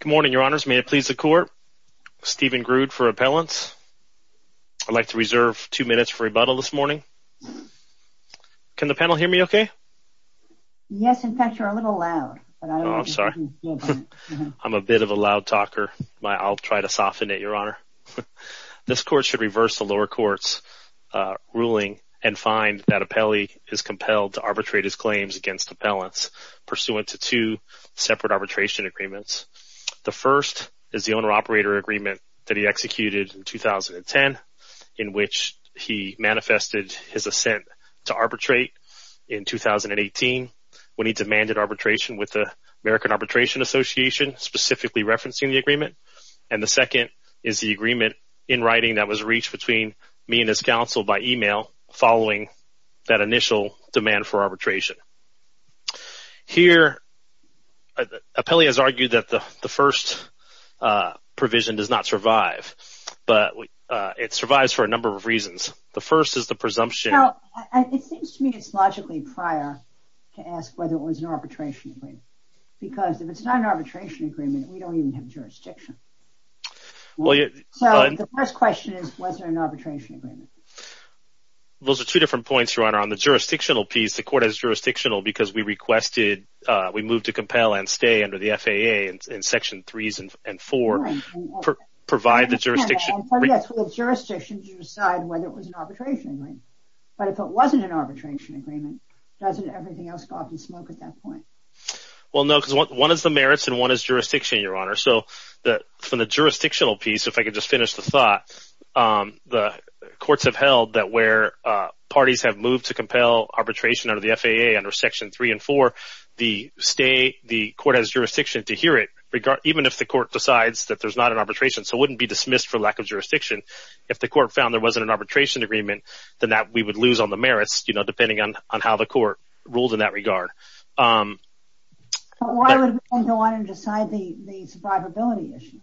Good morning, Your Honors. May it please the Court? Stephen Grude for Appellants. I'd like to reserve two minutes for rebuttal this morning. Can the panel hear me okay? Yes, in fact, you're a little loud. I'm sorry. I'm a bit of a loud talker. I'll try to soften it, Your Honor. This Court should reverse the lower court's ruling and find that Appellee is compelled to arbitrate his claims against Appellants pursuant to two separate arbitration agreements. The first is the owner-operator agreement that he executed in 2010 in which he manifested his assent to arbitrate in 2018 when he demanded arbitration with the American Arbitration Association, specifically referencing the agreement. And the second is the agreement in writing that was reached between me and his counsel by email following that initial demand for arbitration. Here, Appellee has argued that the first provision does not survive, but it survives for a number of reasons. The first is the presumption... It seems to me it's logically prior to ask whether it was an arbitration agreement, because if it's not an arbitration agreement, we don't even have jurisdiction. So the first question is, was there an arbitration agreement? Those are two different points, Your Honor. On the jurisdictional piece, the Court has jurisdictional because we requested... We moved to compel and stay under the FAA in section threes and four, provide the jurisdiction... Yes, for the jurisdiction to decide whether it was an arbitration agreement. But if it wasn't an arbitration agreement, doesn't everything else go up in smoke at that point? Well, no, because one is the merits and one is jurisdiction, Your Honor. So from the jurisdictional piece, if I could just finish the thought, the courts have held that where parties have moved to compel arbitration under the FAA under section three and four, the court has jurisdiction to hear it, even if the court decides that there's not an arbitration. So it wouldn't be dismissed for lack of jurisdiction. If the court found there wasn't an arbitration agreement, then we would lose on the merits, depending on how the court rules in that regard. Why would we then go on and decide the survivability issue?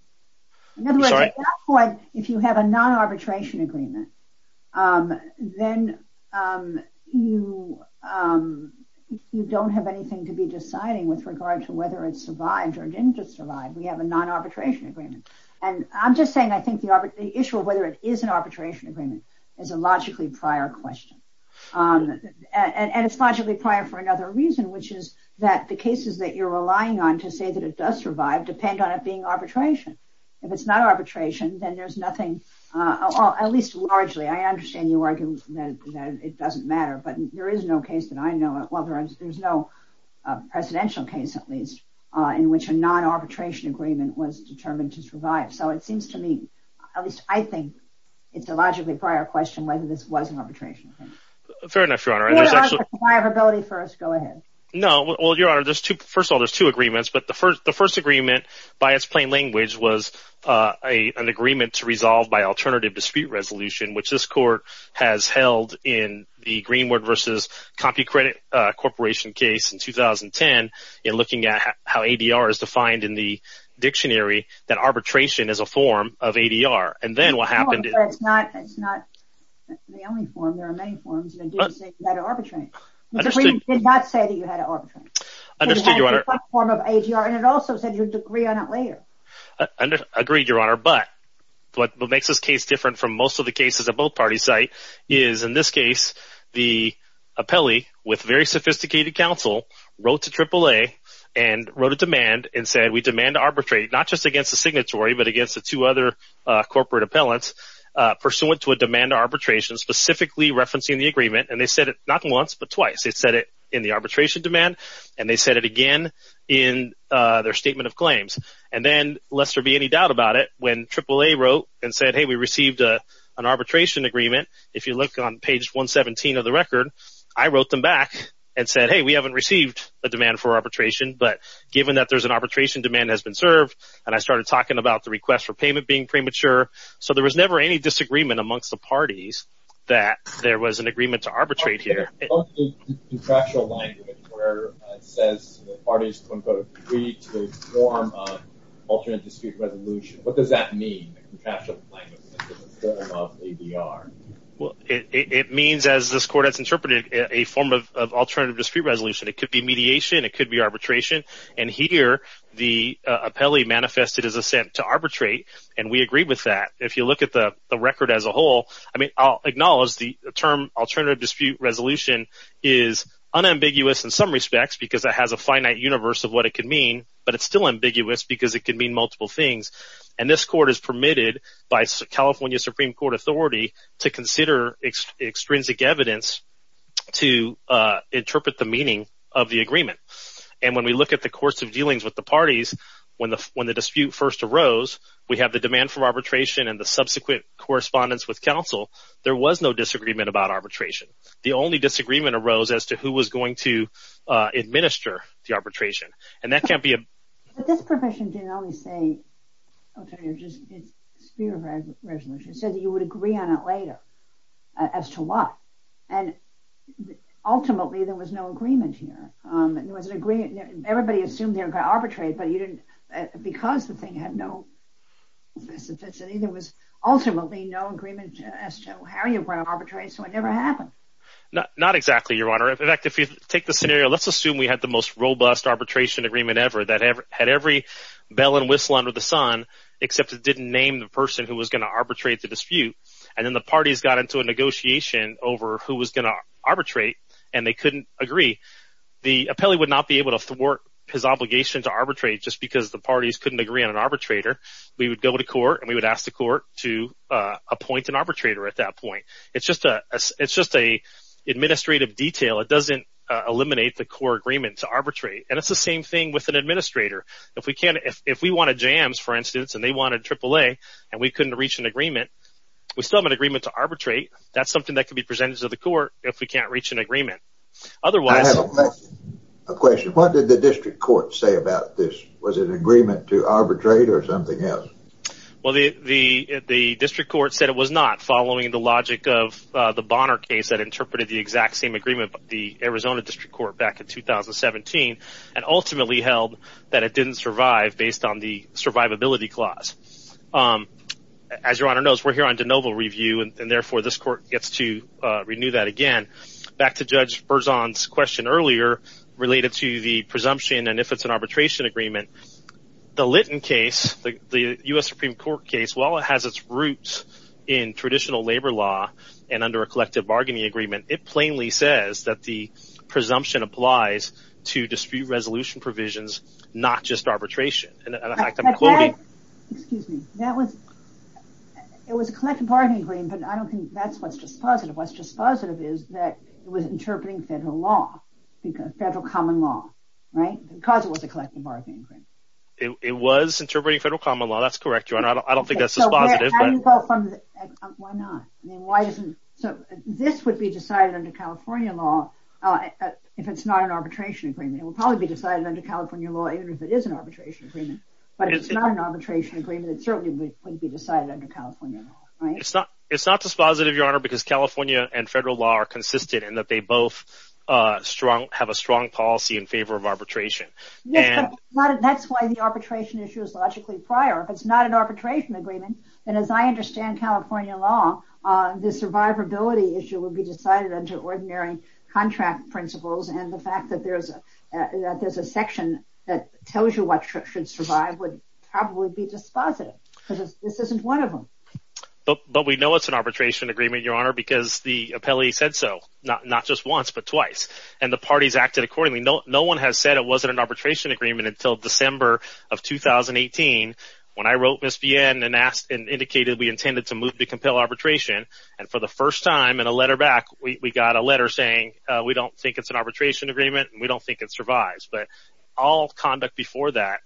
I'm sorry? In other words, at that point, if you have a non-arbitration agreement, then you don't have anything to be deciding with regard to whether it survived or didn't just survive. We have a non-arbitration agreement. And I'm just saying, I think the issue of whether it survived or didn't survive is a logically prior for another reason, which is that the cases that you're relying on to say that it does survive depend on it being arbitration. If it's not arbitration, then there's nothing, at least largely, I understand you argue that it doesn't matter, but there is no case that I know of, well, there's no presidential case, at least, in which a non-arbitration agreement was determined to survive. So it seems to me, at least I think, it's a logically prior question whether this was an arbitration. Fair enough, Your Honor. Survivability first, go ahead. No, well, Your Honor, first of all, there's two agreements. But the first agreement, by its plain language, was an agreement to resolve by alternative dispute resolution, which this Court has held in the Greenwood v. CompuCredit Corporation case in 2010, in looking at how ADR is defined in the dictionary, that arbitration is a form of ADR. And then what happened... It's not the only form, there are many forms that do say you had to arbitrate. Understood. The agreement did not say that you had to arbitrate. Understood, Your Honor. It had a form of ADR, and it also said you had to agree on it later. Agreed, Your Honor, but what makes this case different from most of the cases at both parties site is, in this case, the appellee, with very sophisticated counsel, wrote to AAA and wrote a demand and said, we demand to arbitrate, not just against the signatory, but against the two other corporate appellants, pursuant to a demand arbitration, specifically referencing the agreement. And they said it not once, but twice. They said it in the arbitration demand, and they said it again in their statement of claims. And then, lest there be any doubt about it, when AAA wrote and said, hey, we received an arbitration agreement, if you look on page 117 of the record, I wrote them back and said, hey, we haven't received a demand for arbitration, but given that there's an arbitration, demand has been served. And I started talking about the request for payment being premature. So there was never any disagreement amongst the parties that there was an agreement to arbitrate here. What's the contractual language where it says the parties, quote-unquote, agreed to a form of alternate dispute resolution? What does that mean, the contractual language? Well, it means, as this court has interpreted, a form of alternative dispute resolution. It could be mediation. It could be arbitration. And here, the appellee manifested his assent to arbitrate, and we agreed with that. If you look at the record as a whole, I'll acknowledge the term alternative dispute resolution is unambiguous in some respects because it has a finite universe of what it could mean, but it's still ambiguous because it could mean multiple things. And this court is permitted by California Supreme Court authority to consider extrinsic evidence to interpret the meaning of the agreement. And when we look at the courts of dealings with the parties, when the dispute first arose, we have the demand for arbitration and the subsequent correspondence with counsel. There was no disagreement about arbitration. The only disagreement arose as to who was going to administer the arbitration. And that can't be a... But this provision didn't only say alternative dispute resolution. It said that you would agree on it later as to why. And ultimately, there was no agreement here. There was an agreement... Everybody assumed they were going to arbitrate, but you didn't... Because the thing had no specificity, there was ultimately no agreement as to how you were going to arbitrate, so it never happened. Not exactly, Your Honor. In fact, if you take the scenario, let's assume we had the most robust arbitration agreement ever that had every bell and whistle under the sun, except it didn't name the person who was going to arbitrate the dispute. And then the parties got into a negotiation over who was going to arbitrate, and they couldn't agree. The appellee would not be able to thwart his obligation to arbitrate just because the parties couldn't agree on an arbitrator. We would go to court, and we would ask the court to appoint an arbitrator at that point. It's just an administrative detail. It doesn't eliminate the core agreement to arbitrate. And it's the same thing with an administrator. If we wanted jams, for instance, and they wanted AAA, and we couldn't reach an agreement, we still have an agreement to arbitrate. That's something that could be presented to the court if we can't reach an agreement. Otherwise, I have a question. What did the district court say about this? Was it an agreement to arbitrate or something else? Well, the district court said it was not, following the logic of the Bonner case that interpreted the exact same agreement of the Arizona district court back in 2017, and ultimately held that it didn't survive based on the survivability clause. As your honor knows, we're here on de novo review, and therefore this court gets to renew that again. Back to Judge Berzon's question earlier, related to the presumption and if it's an arbitration agreement. The Litton case, the U.S. Supreme Court case, while it has its roots in traditional labor law and under a collective bargaining agreement, it plainly says that the presumption applies to dispute resolution provisions, not just arbitration. Excuse me. It was a collective bargaining agreement, but I don't think that's what's just positive. It was interpreting federal law, federal common law, right, because it was a collective bargaining agreement. It was interpreting federal common law. That's correct, your honor. I don't think that's just positive. Why not? This would be decided under California law if it's not an arbitration agreement. It would probably be decided under California law, even if it is an arbitration agreement, but if it's not an arbitration agreement, it certainly wouldn't be decided under California law, right? It's not just positive, your honor, because California and federal law are consistent in that they both have a strong policy in favor of arbitration. That's why the arbitration issue is logically prior. If it's not an arbitration agreement, then as I understand California law, the survivability issue would be decided under ordinary contract principles, and the fact that there's a section that tells you what should survive would probably be just positive because this isn't one of them. But we know it's an arbitration agreement, because the appellee said so, not just once, but twice, and the parties acted accordingly. No one has said it wasn't an arbitration agreement until December of 2018, when I wrote Ms. Vienne and asked and indicated we intended to move to compel arbitration, and for the first time in a letter back, we got a letter saying, we don't think it's an arbitration agreement, and we don't think it survives, but all conduct before that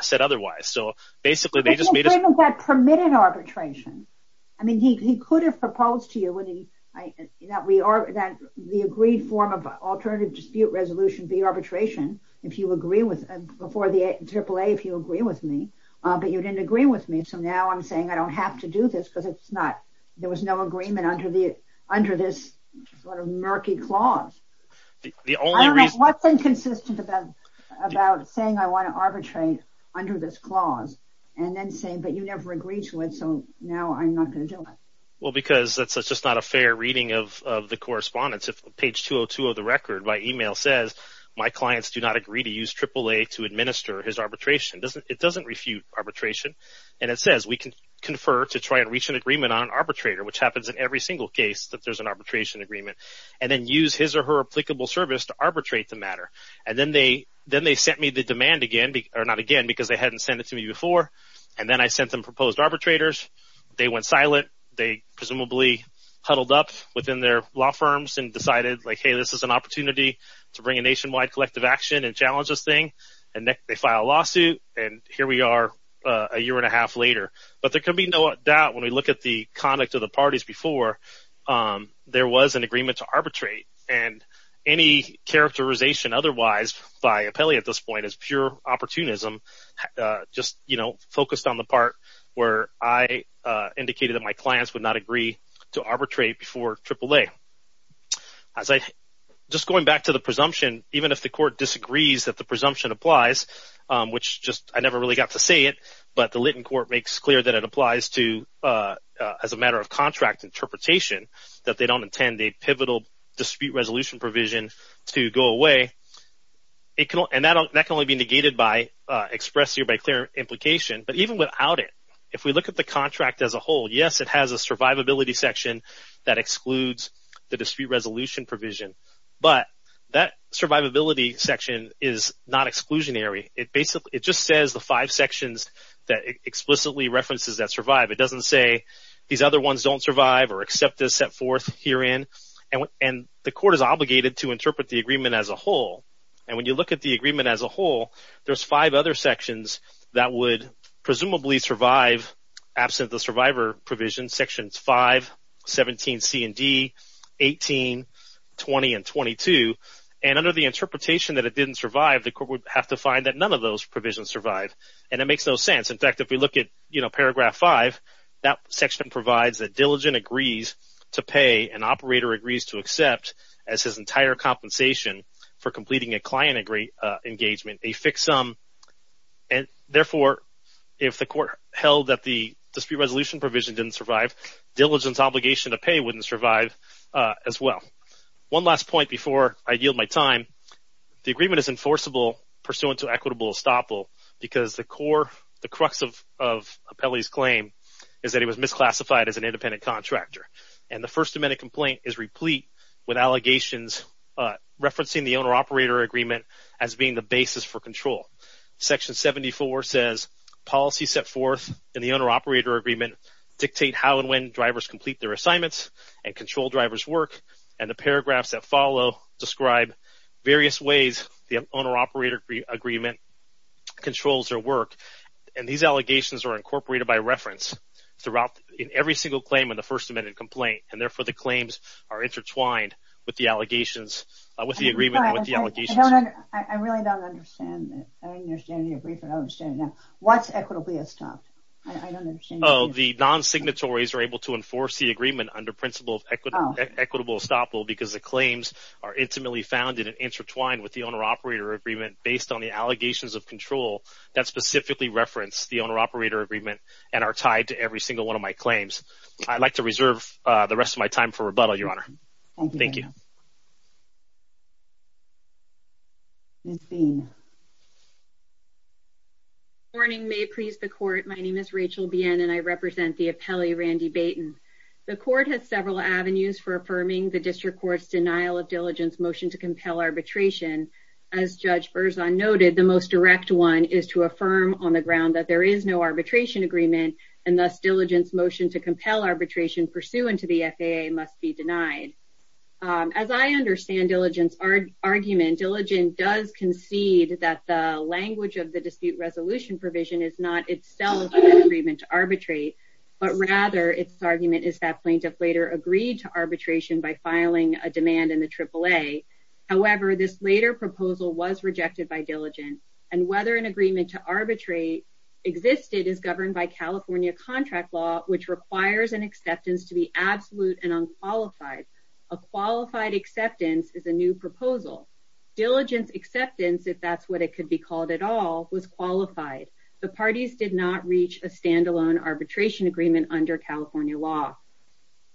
said otherwise. So basically, they just made us- But the agreement had permitted arbitration. I mean, he could have proposed to you that the agreed form of alternative dispute resolution be arbitration if you agree with- before the AAA if you agree with me, but you didn't agree with me, so now I'm saying I don't have to do this because there was no agreement under this sort of murky clause. The only reason- I don't know, what's inconsistent about saying I want to arbitrate under this clause and then saying, but you never agreed to it, so now I'm not going to do it. Well, because that's just not a fair reading of the correspondence. If page 202 of the record, my email says, my clients do not agree to use AAA to administer his arbitration. It doesn't refute arbitration, and it says we can confer to try and reach an agreement on an arbitrator, which happens in every single case that there's an arbitration agreement, and then use his or her applicable service to arbitrate the matter, and then they sent me the demand again, or not again, because they hadn't sent it to me before, and then I sent them proposed arbitrators. They went silent. They presumably huddled up within their law firms and decided like, hey, this is an opportunity to bring a nationwide collective action and challenge this thing, and they file a lawsuit, and here we are a year and a half later. But there can be no doubt when we look at the conduct of the parties before, there was an agreement to arbitrate, and any characterization otherwise by Apelli at this point is pure opportunism, just focused on the part where I indicated that my clients would not agree to arbitrate before AAA. Just going back to the presumption, even if the court disagrees that the presumption applies, which I never really got to say it, but the Lytton court makes clear that it applies to, as a matter of contract interpretation, that they don't intend a pivotal dispute resolution provision to go away, and that can only be negated expressed here by clear implication, but even without it, if we look at the contract as a whole, yes, it has a survivability section that excludes the dispute resolution provision, but that survivability section is not exclusionary. It just says the five sections that it explicitly references that survive. It doesn't say these other ones don't survive or accept this set forth herein, and the court is obligated to interpret the agreement as a whole, and when you look at the agreement as a whole, there's five other sections that would presumably survive absent the survivor provision, sections 5, 17C and D, 18, 20, and 22, and under the interpretation that it didn't survive, the court would have to find that none of those provisions survive, and it makes no sense. In fact, if we look at, you know, paragraph 5, that section provides that diligent agrees to pay an operator agrees to accept as his entire compensation for completing a client engagement a fixed sum, and therefore, if the court held that the dispute resolution provision didn't survive, diligent's obligation to pay wouldn't survive as well. One last point before I yield my time. The agreement is enforceable pursuant to equitable estoppel because the core, the crux of Appelli's claim is that it was misclassified as an independent contractor, and the First Amendment complaint is replete with allegations referencing the owner-operator agreement as being the basis for control. Section 74 says, policy set forth in the owner-operator agreement dictate how and when drivers complete their assignments and control drivers' work, and the paragraphs that follow describe various ways the owner-operator agreement controls their work, and these allegations are incorporated by reference throughout every single claim in the First Amendment complaint, and therefore, the claims are intertwined with the allegations, with the agreement and with the allegations. I really don't understand it. I understand your brief, but I don't understand it now. What's equitably estopped? Oh, the non-signatories are able to enforce the agreement under principle of equitable estoppel because the claims are intimately founded and intertwined with the owner-operator agreement based on the allegations of control that specifically reference the owner-operator agreement every single one of my claims. I'd like to reserve the rest of my time for rebuttal, Your Honor. Thank you. Ms. Bean. Good morning. May it please the Court, my name is Rachel Behan, and I represent the appellee, Randy Baten. The Court has several avenues for affirming the District Court's denial of diligence motion to compel arbitration. As Judge Berzon noted, the most direct one is to affirm on the ground that there is no arbitration agreement, and thus, diligence motion to compel arbitration pursuant to the FAA must be denied. As I understand diligence, argument diligence does concede that the language of the dispute resolution provision is not itself an agreement to arbitrate, but rather its argument is that plaintiff later agreed to arbitration by filing a demand in the AAA. However, this later proposal was rejected by diligence, and whether an agreement to arbitrate existed is governed by California contract law, which requires an acceptance to be absolute and unqualified. A qualified acceptance is a new proposal. Diligence acceptance, if that's what it could be called at all, was qualified. The parties did not reach a standalone arbitration agreement under California law.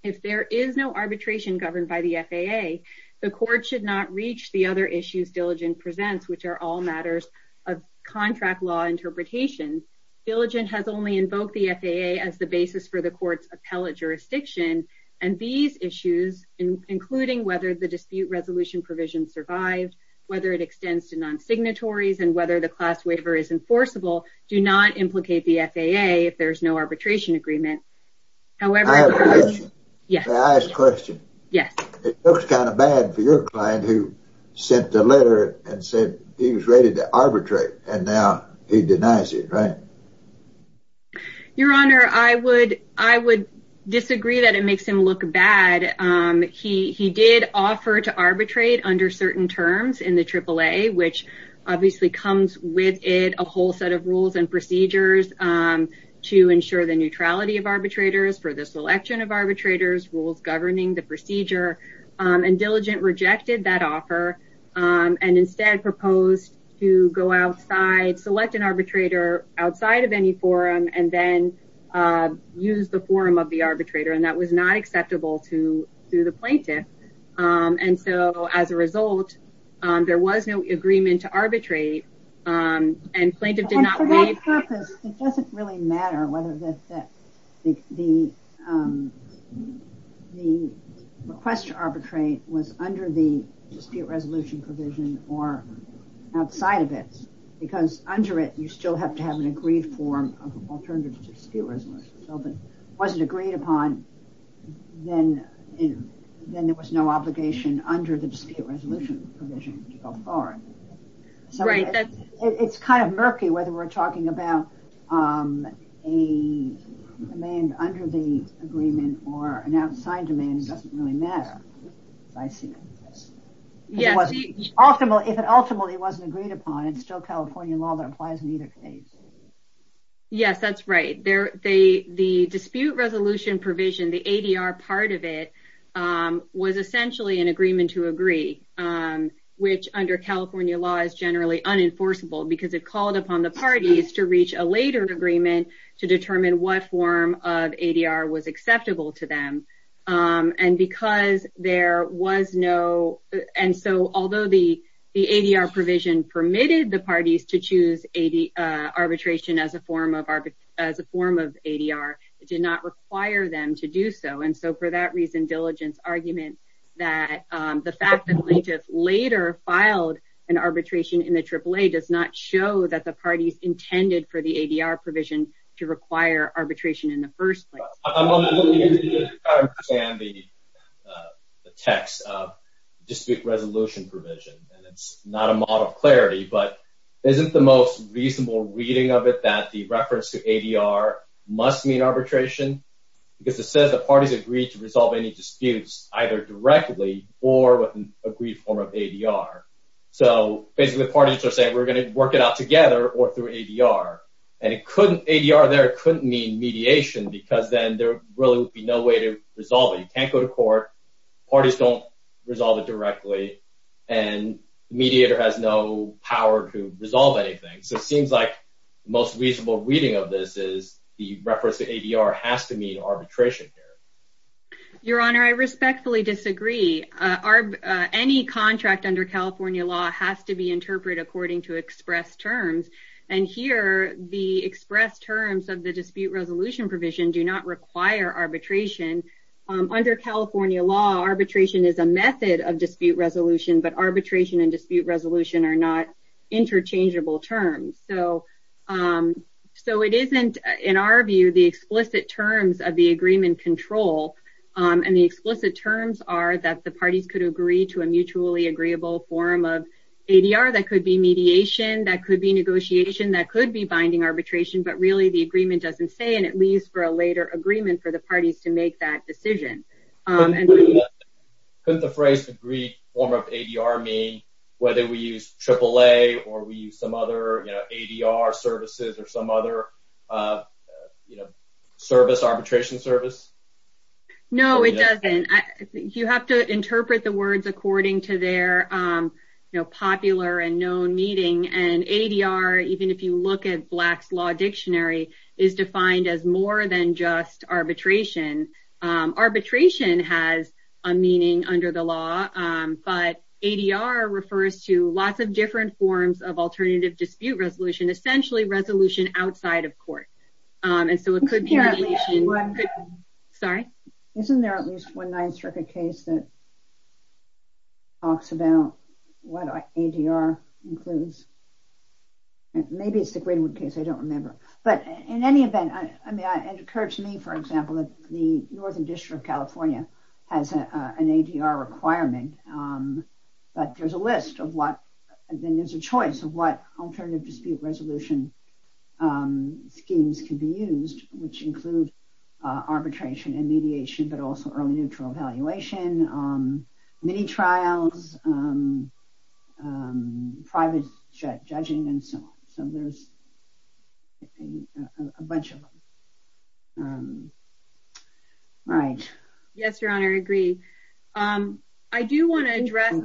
If there is no arbitration governed by the FAA, the Court should not reach the other issues diligence presents, which are all matters of contract law interpretation. Diligence has only invoked the FAA as the basis for the Court's appellate jurisdiction, and these issues, including whether the dispute resolution provision survived, whether it extends to non-signatories, and whether the class waiver is enforceable, do not implicate the FAA if there's no arbitration agreement. However, I have a question. May I ask a question? Yes. It looks kind of bad for your client who sent a letter and said he was ready to arbitrate, and now he denies it, right? Your Honor, I would disagree that it makes him look bad. He did offer to arbitrate under certain terms in the AAA, which obviously comes with it a whole set of rules and procedures to ensure the neutrality of arbitrators for the selection of arbitrators, rules governing the procedure, and Diligent rejected that offer and instead proposed to go outside, select an arbitrator outside of any forum, and then use the forum of the arbitrator, and that was not acceptable to the plaintiff, and so as a result, there was no agreement to arbitrate, and plaintiff did not waive- And for that purpose, it doesn't really matter whether the request to arbitrate was under the dispute resolution provision or outside of it, because under it, you still have to have an agreed form of alternative dispute resolution, so if it wasn't agreed upon, then there was no obligation under the dispute resolution provision to go forward, so it's kind of murky whether we're talking about a demand under the agreement or an outside demand that doesn't really matter. If it ultimately wasn't agreed upon, it's still California law that applies in either case. Yes, that's right. The dispute resolution provision, the ADR part of it, was essentially an agreement to agree, which under California law is generally unenforceable because it called upon the parties to reach a later agreement to determine what form of ADR was acceptable to them, and because there was no- and so although the ADR provision permitted the parties to choose arbitration as a form of ADR, it did not require them to do so, and so for that reason, Diligent's argument that the fact that plaintiffs later filed an arbitration in the AAA does not show that the parties intended for the ADR provision to require arbitration in the first place. I'm not looking into it to try to understand the text of the dispute resolution provision, and it's not a model of clarity, but isn't the most reasonable reading of it that the reference to ADR must mean arbitration because it says the parties agreed to resolve any disputes either directly or with an agreed form of ADR, so basically the parties are saying we're going to work it out together or through ADR, and it couldn't- ADR there couldn't mean mediation because then there really would be no way to resolve it. You can't go to court, parties don't resolve it directly, and the mediator has no power to resolve anything, so it seems like the most reasonable reading of this is the reference to ADR has to mean arbitration here. Your Honor, I respectfully disagree. Any contract under California law has to be interpreted according to express terms, and here the express terms of the dispute resolution provision do not require arbitration. Under California law, arbitration is a method of dispute resolution, but arbitration and dispute resolution are not interchangeable terms, so it isn't, in our view, the explicit terms of the agreement control, and the explicit terms are that the parties could agree to a mutually agreeable form of ADR that could be mediation, that could be negotiation, that could be binding arbitration, but really the agreement doesn't say, and it leaves for a later agreement for the parties to make that decision. Couldn't the phrase agreed form of ADR mean whether we use AAA or we use some other ADR services or some other service, arbitration service? No, it doesn't. You have to interpret the words according to their popular and known meaning, and ADR, even if you look at Black's Law Dictionary, is defined as more than just arbitration. Arbitration has a meaning under the law, but ADR refers to lots of different forms of alternative dispute resolution, essentially resolution outside of court, and so it could be mediation. Sorry? Isn't there at least one nine-striker case that talks about what ADR includes? Maybe it's the Greenwood case. I don't remember, but in any event, I mean, it occurs to me, for example, that the Northern District of California has an ADR requirement, but there's a list of what, and there's a choice of what alternative dispute resolution schemes can be used, which include arbitration and mediation, but also early neutral evaluation, mini-trials, private judging, and so on. So there's a bunch of them. All right. Yes, Your Honor, I agree. I do want to address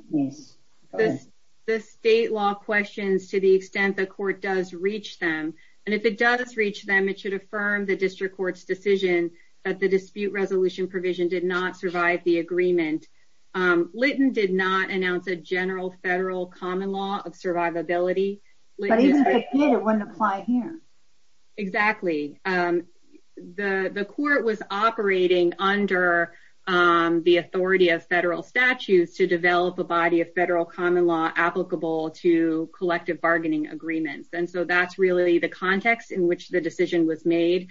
the state law questions to the extent the court does reach them, and if it does reach them, it should affirm the district court's decision that the dispute resolution provision did not survive the agreement. Litton did not announce a general federal common law of survivability. But even if it did, it wouldn't apply here. Exactly. The court was operating under the authority of federal statutes to develop a body of federal common law applicable to collective bargaining agreements. And so that's really the context in which the decision was made.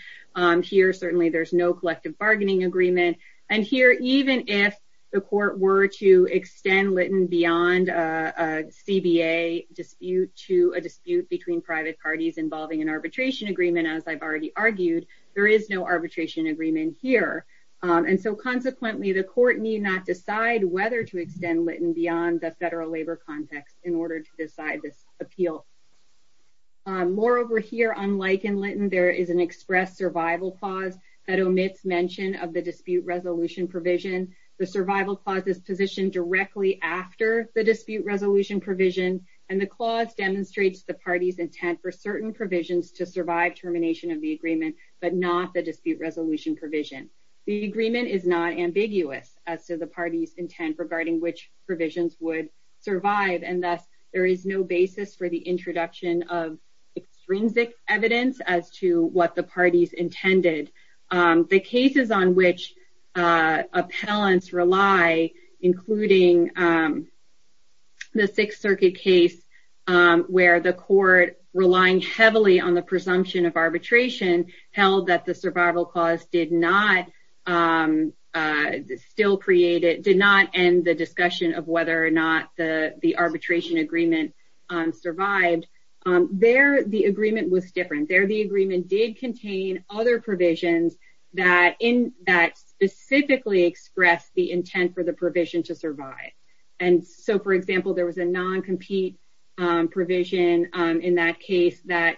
Here, certainly, there's no collective bargaining agreement. And here, even if the court were to extend Litton beyond a CBA dispute to a dispute between private parties involving an arbitration agreement, as I've already argued, there is no arbitration agreement here. And so consequently, the court need not decide whether to extend Litton beyond the federal labor context in order to decide this appeal. Moreover, here, unlike in Litton, there is an express survival clause that omits mention of the dispute resolution provision. The survival clause is positioned directly after the dispute resolution provision. And the clause demonstrates the party's intent for certain provisions to survive termination of the agreement, but not the dispute resolution provision. The agreement is not ambiguous as to the party's intent regarding which provisions would survive. And thus, there is no basis for the introduction of extrinsic evidence as to what the parties intended. The cases on which appellants rely, including the Sixth Circuit case, where the court, relying heavily on the presumption of arbitration, held that the survival clause did not end the discussion of whether or not the arbitration agreement survived. There, the agreement was different. There, the agreement did contain other provisions that specifically expressed the intent for the provision to survive. And so, for example, there was a non-compete provision in that case that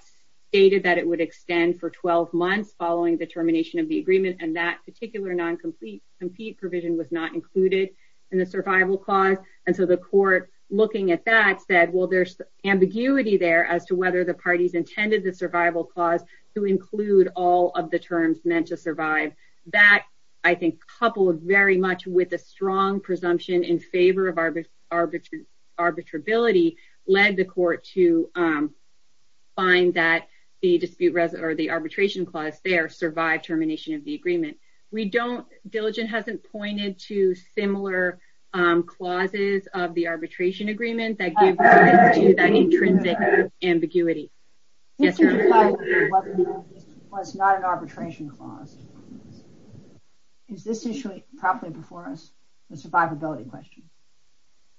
stated that it would extend for 12 months following the termination of the agreement, and that particular non-compete provision was not included in the survival clause. And so, the court, looking at that, said, well, there's ambiguity there as to whether the parties intended the survival clause to include all of the terms meant to survive. That, I think, coupled very much with a strong presumption in favor of arbitrability, led the court to find that the dispute resolution or the arbitration clause there survived termination of the agreement. We don't, Diligent hasn't pointed to similar clauses of the arbitration agreement that give rise to that intrinsic ambiguity. Yes, Your Honor. The dispute clause was not an arbitration clause. Is this issue properly before us, the survivability question?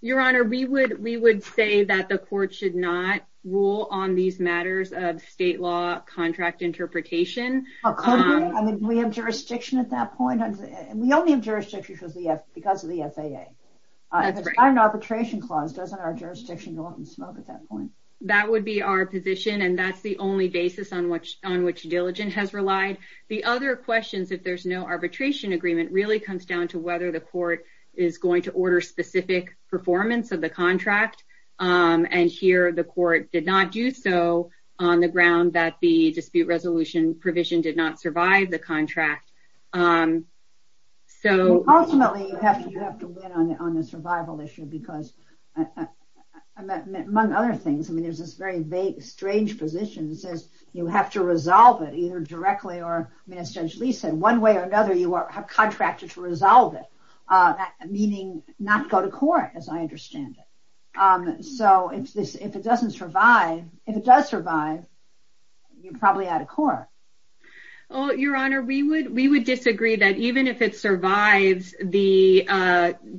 Your Honor, we would say that the court should not rule on these matters of state law contract interpretation. Oh, could we? I mean, do we have jurisdiction at that point? We only have jurisdiction because of the FAA. That's right. If it's not an arbitration clause, doesn't our jurisdiction go up in smoke at that point? That would be our position, and that's the only basis on which Diligent has relied. The other questions, if there's no arbitration agreement, really comes down to whether the court is going to order specific performance of the contract. And here, the court did not do so on the ground that the dispute resolution provision did not survive the contract. Ultimately, you have to win on the survival issue because, among other things, I mean, there's this very vague, strange position that says you have to resolve it, either directly or, I mean, as Judge Lee said, one way or another, you are contracted to resolve it, meaning not go to court, as I understand it. So if it doesn't survive, if it does survive, you're probably out of court. Oh, Your Honor, we would disagree that even if it survives, the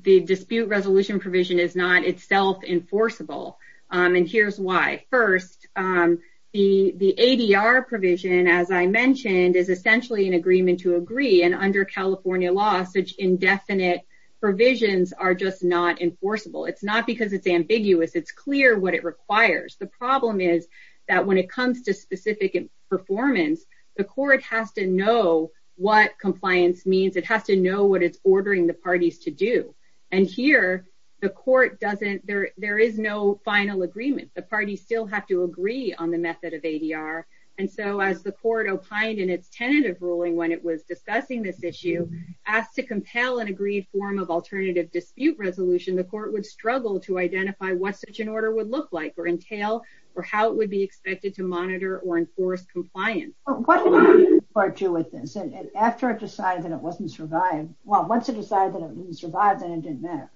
dispute resolution provision is not itself enforceable. And here's why. First, the ADR provision, as I mentioned, is essentially an agreement to agree. And under California law, such indefinite provisions are just not enforceable. It's not because it's ambiguous. It's clear what it requires. The problem is that when it comes to specific performance, the court has to know what compliance means. It has to know what it's ordering the parties to do. And here, the court doesn't, there is no final agreement. The parties still have to agree on the method of ADR. And so as the court opined in its tentative ruling when it was discussing this issue, asked to compel an agreed form of alternative dispute resolution, the court would struggle to identify what such an order would look like or entail, or how it would be expected to monitor or enforce compliance. What did the court do with this? And after it decided that it wasn't survived, well, once it decided that it didn't survive, then it didn't matter.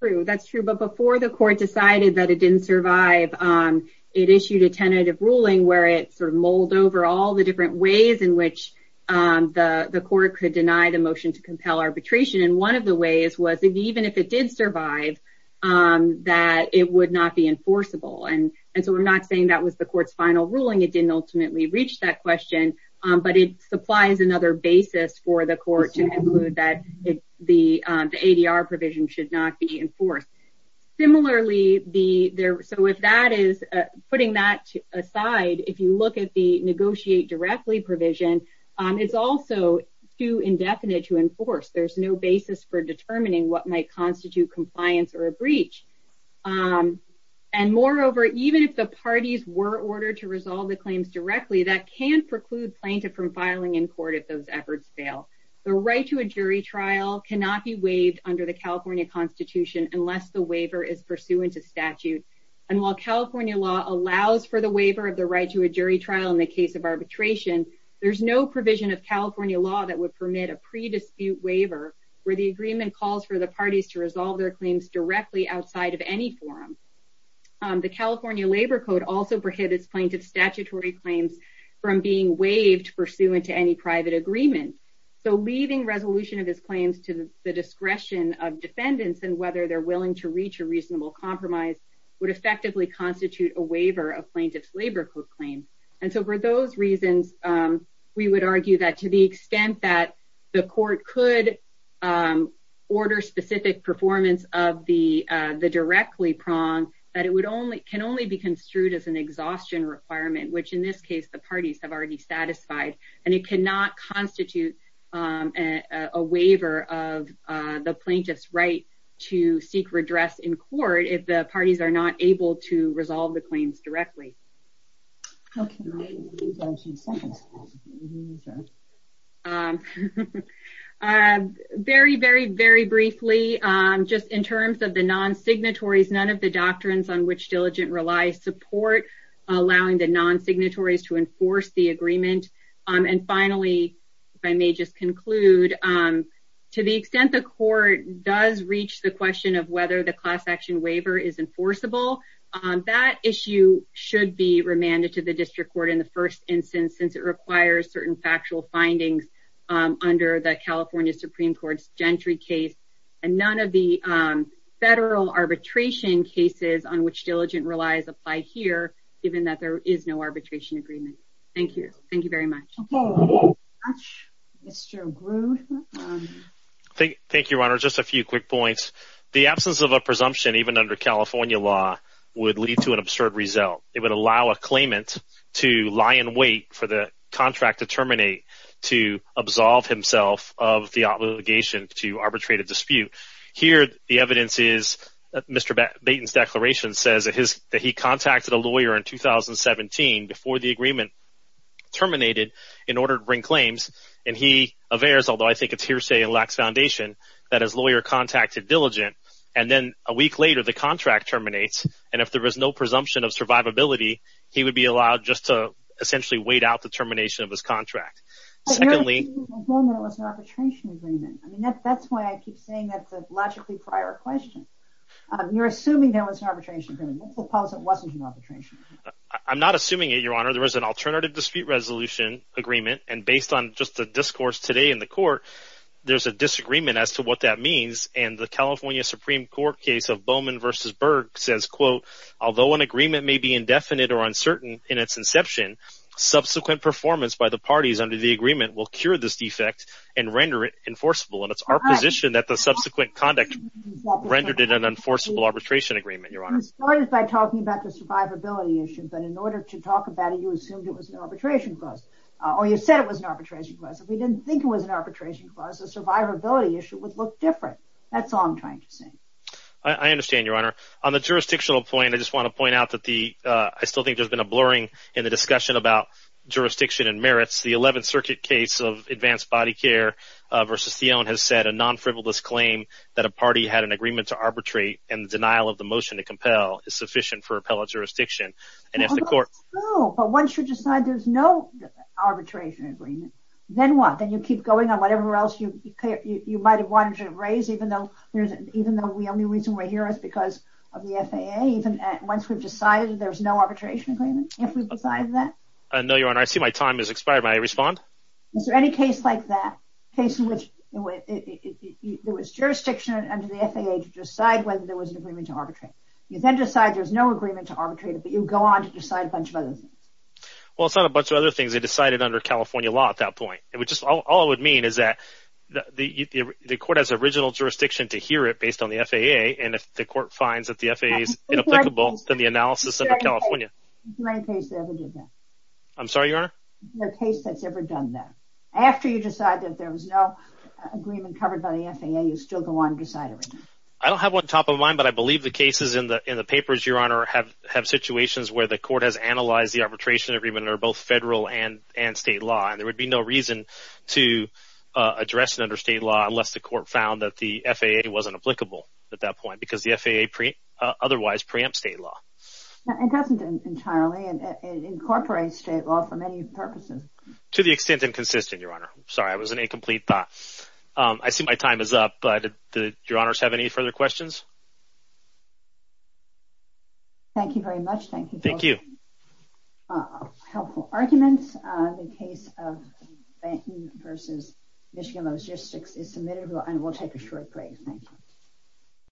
True, that's true. But before the court decided that it didn't survive, it issued a tentative ruling where it sort of mulled over all the different ways in which the court could deny the motion to compel arbitration. And one of the ways was even if it did survive, that it would not be enforceable. And so we're not saying that was the court's final ruling. It didn't ultimately reach that question, but it supplies another basis for the court to conclude that the ADR provision should not be enforced. Similarly, so if that is, putting that aside, if you look at the negotiate directly provision, it's also too indefinite to enforce. There's no basis for determining what might constitute compliance or a breach. And moreover, even if the parties were ordered to resolve the claims directly, that can preclude plaintiff from filing in court if those efforts fail. The right to a jury trial cannot be waived under the California constitution unless the waiver is pursuant to statute. And while California law allows for the waiver of the right to a jury trial in the case of arbitration, there's no provision of California law that would permit a pre-dispute waiver where the agreement calls for the parties to resolve their claims directly outside of any forum. The California Labor Code also prohibits plaintiff's statutory claims from being waived pursuant to any private agreement. So leaving resolution of his claims to the discretion of defendants and whether they're willing to reach a reasonable compromise would effectively constitute a waiver of plaintiff's Labor Code claim. And so for those reasons, we would argue that to the extent that the court could order specific performance of the directly prong, that it can only be construed as an exhaustion requirement, which in this case, the parties have already satisfied. And it cannot constitute a waiver of the plaintiff's right to seek redress in court if the parties are not able to resolve the claims directly. Very, very, very briefly, just in terms of the non-signatories, none of the doctrines on which diligent relies support allowing the non-signatories to enforce the agreement. And finally, if I may just conclude, to the extent the court does reach the question of whether the class action waiver is enforceable, that issue should be remanded to the district court in the first instance, since it requires certain factual findings under the California Supreme Court's Gentry case. And none of the federal arbitration cases on which diligent relies apply here, given that there is no arbitration agreement. Thank you. Thank you very much. Thank you, Your Honor. Just a few quick points. The absence of a presumption, even under California law, would lead to an absurd result. It would allow a claimant to lie in wait for the contract to terminate to absolve himself of the obligation to arbitrate a dispute. Here, the evidence is Mr. Batten's declaration says that he contacted a lawyer in 2017 before the agreement terminated in order to bring claims. And he averts, although I think it's hearsay in Lacks Foundation, that his lawyer contacted diligent. And then a week later, the contract terminates. And if there is no presumption of survivability, he would be allowed just to essentially wait out the termination of his contract. But you're assuming there was an arbitration agreement. I mean, that's why I keep saying that's a logically prior question. You're assuming there was an arbitration agreement. Let's suppose it wasn't an arbitration. I'm not assuming it, Your Honor. There was an alternative dispute resolution agreement. And based on just the discourse today in the court, there's a disagreement as to what that means. And the California Supreme Court case of Bowman v. Berg says, quote, Although an agreement may be indefinite or uncertain in its inception, subsequent performance by the parties under the agreement will cure this defect and render it enforceable. And it's our position that the subsequent conduct rendered it an enforceable arbitration agreement, Your Honor. You started by talking about the survivability issue, but in order to talk about it, you assumed it was an arbitration clause. Or you said it was an arbitration clause. If we didn't think it was an arbitration clause, the survivability issue would look different. That's all I'm trying to say. I understand, Your Honor. On the jurisdictional point, I just want to point out that the, I still think there's been a blurring in the discussion about jurisdiction and merits. The 11th Circuit case of advanced body care v. Thione has said a non-frivolous claim that a party had an agreement to arbitrate and the denial of the motion to compel is sufficient for appellate jurisdiction. And if the court... No, but once you decide there's no arbitration agreement, then what? Then you keep going on whatever else you might have wanted to raise, even though the only reason we're here is because of the FAA. Even once we've decided there's no arbitration agreement, if we've decided that? No, Your Honor. I see my time has expired. May I respond? Is there any case like that? A case in which there was jurisdiction under the FAA to decide whether there was an agreement to arbitrate. You then decide there's no agreement to arbitrate, but you go on to decide a bunch of other things. Well, it's not a bunch of other things they decided under California law at that point. It would just... All it would mean is that the court has original jurisdiction to hear it based on the FAA and if the court finds that the FAA is inapplicable, then the analysis under California. Is there any case that ever did that? I'm sorry, Your Honor? Is there a case that's ever done that? After you decide that there was no agreement covered by the FAA, you still go on and decide everything? I don't have one top of mind, but I believe the cases in the papers, Your Honor, have situations where the court has analyzed the arbitration agreement under both federal and state law and there would be no reason to address it under state law unless the court found that the FAA wasn't applicable at that point because the FAA otherwise preempts state law. It doesn't entirely. It incorporates state law for many purposes. To the extent inconsistent, Your Honor. Sorry, it was an incomplete thought. I see my time is up. Your Honors, have any further questions? Thank you very much. Helpful arguments. The case of Banton v. Michigan Logistics is submitted and we'll take a short break.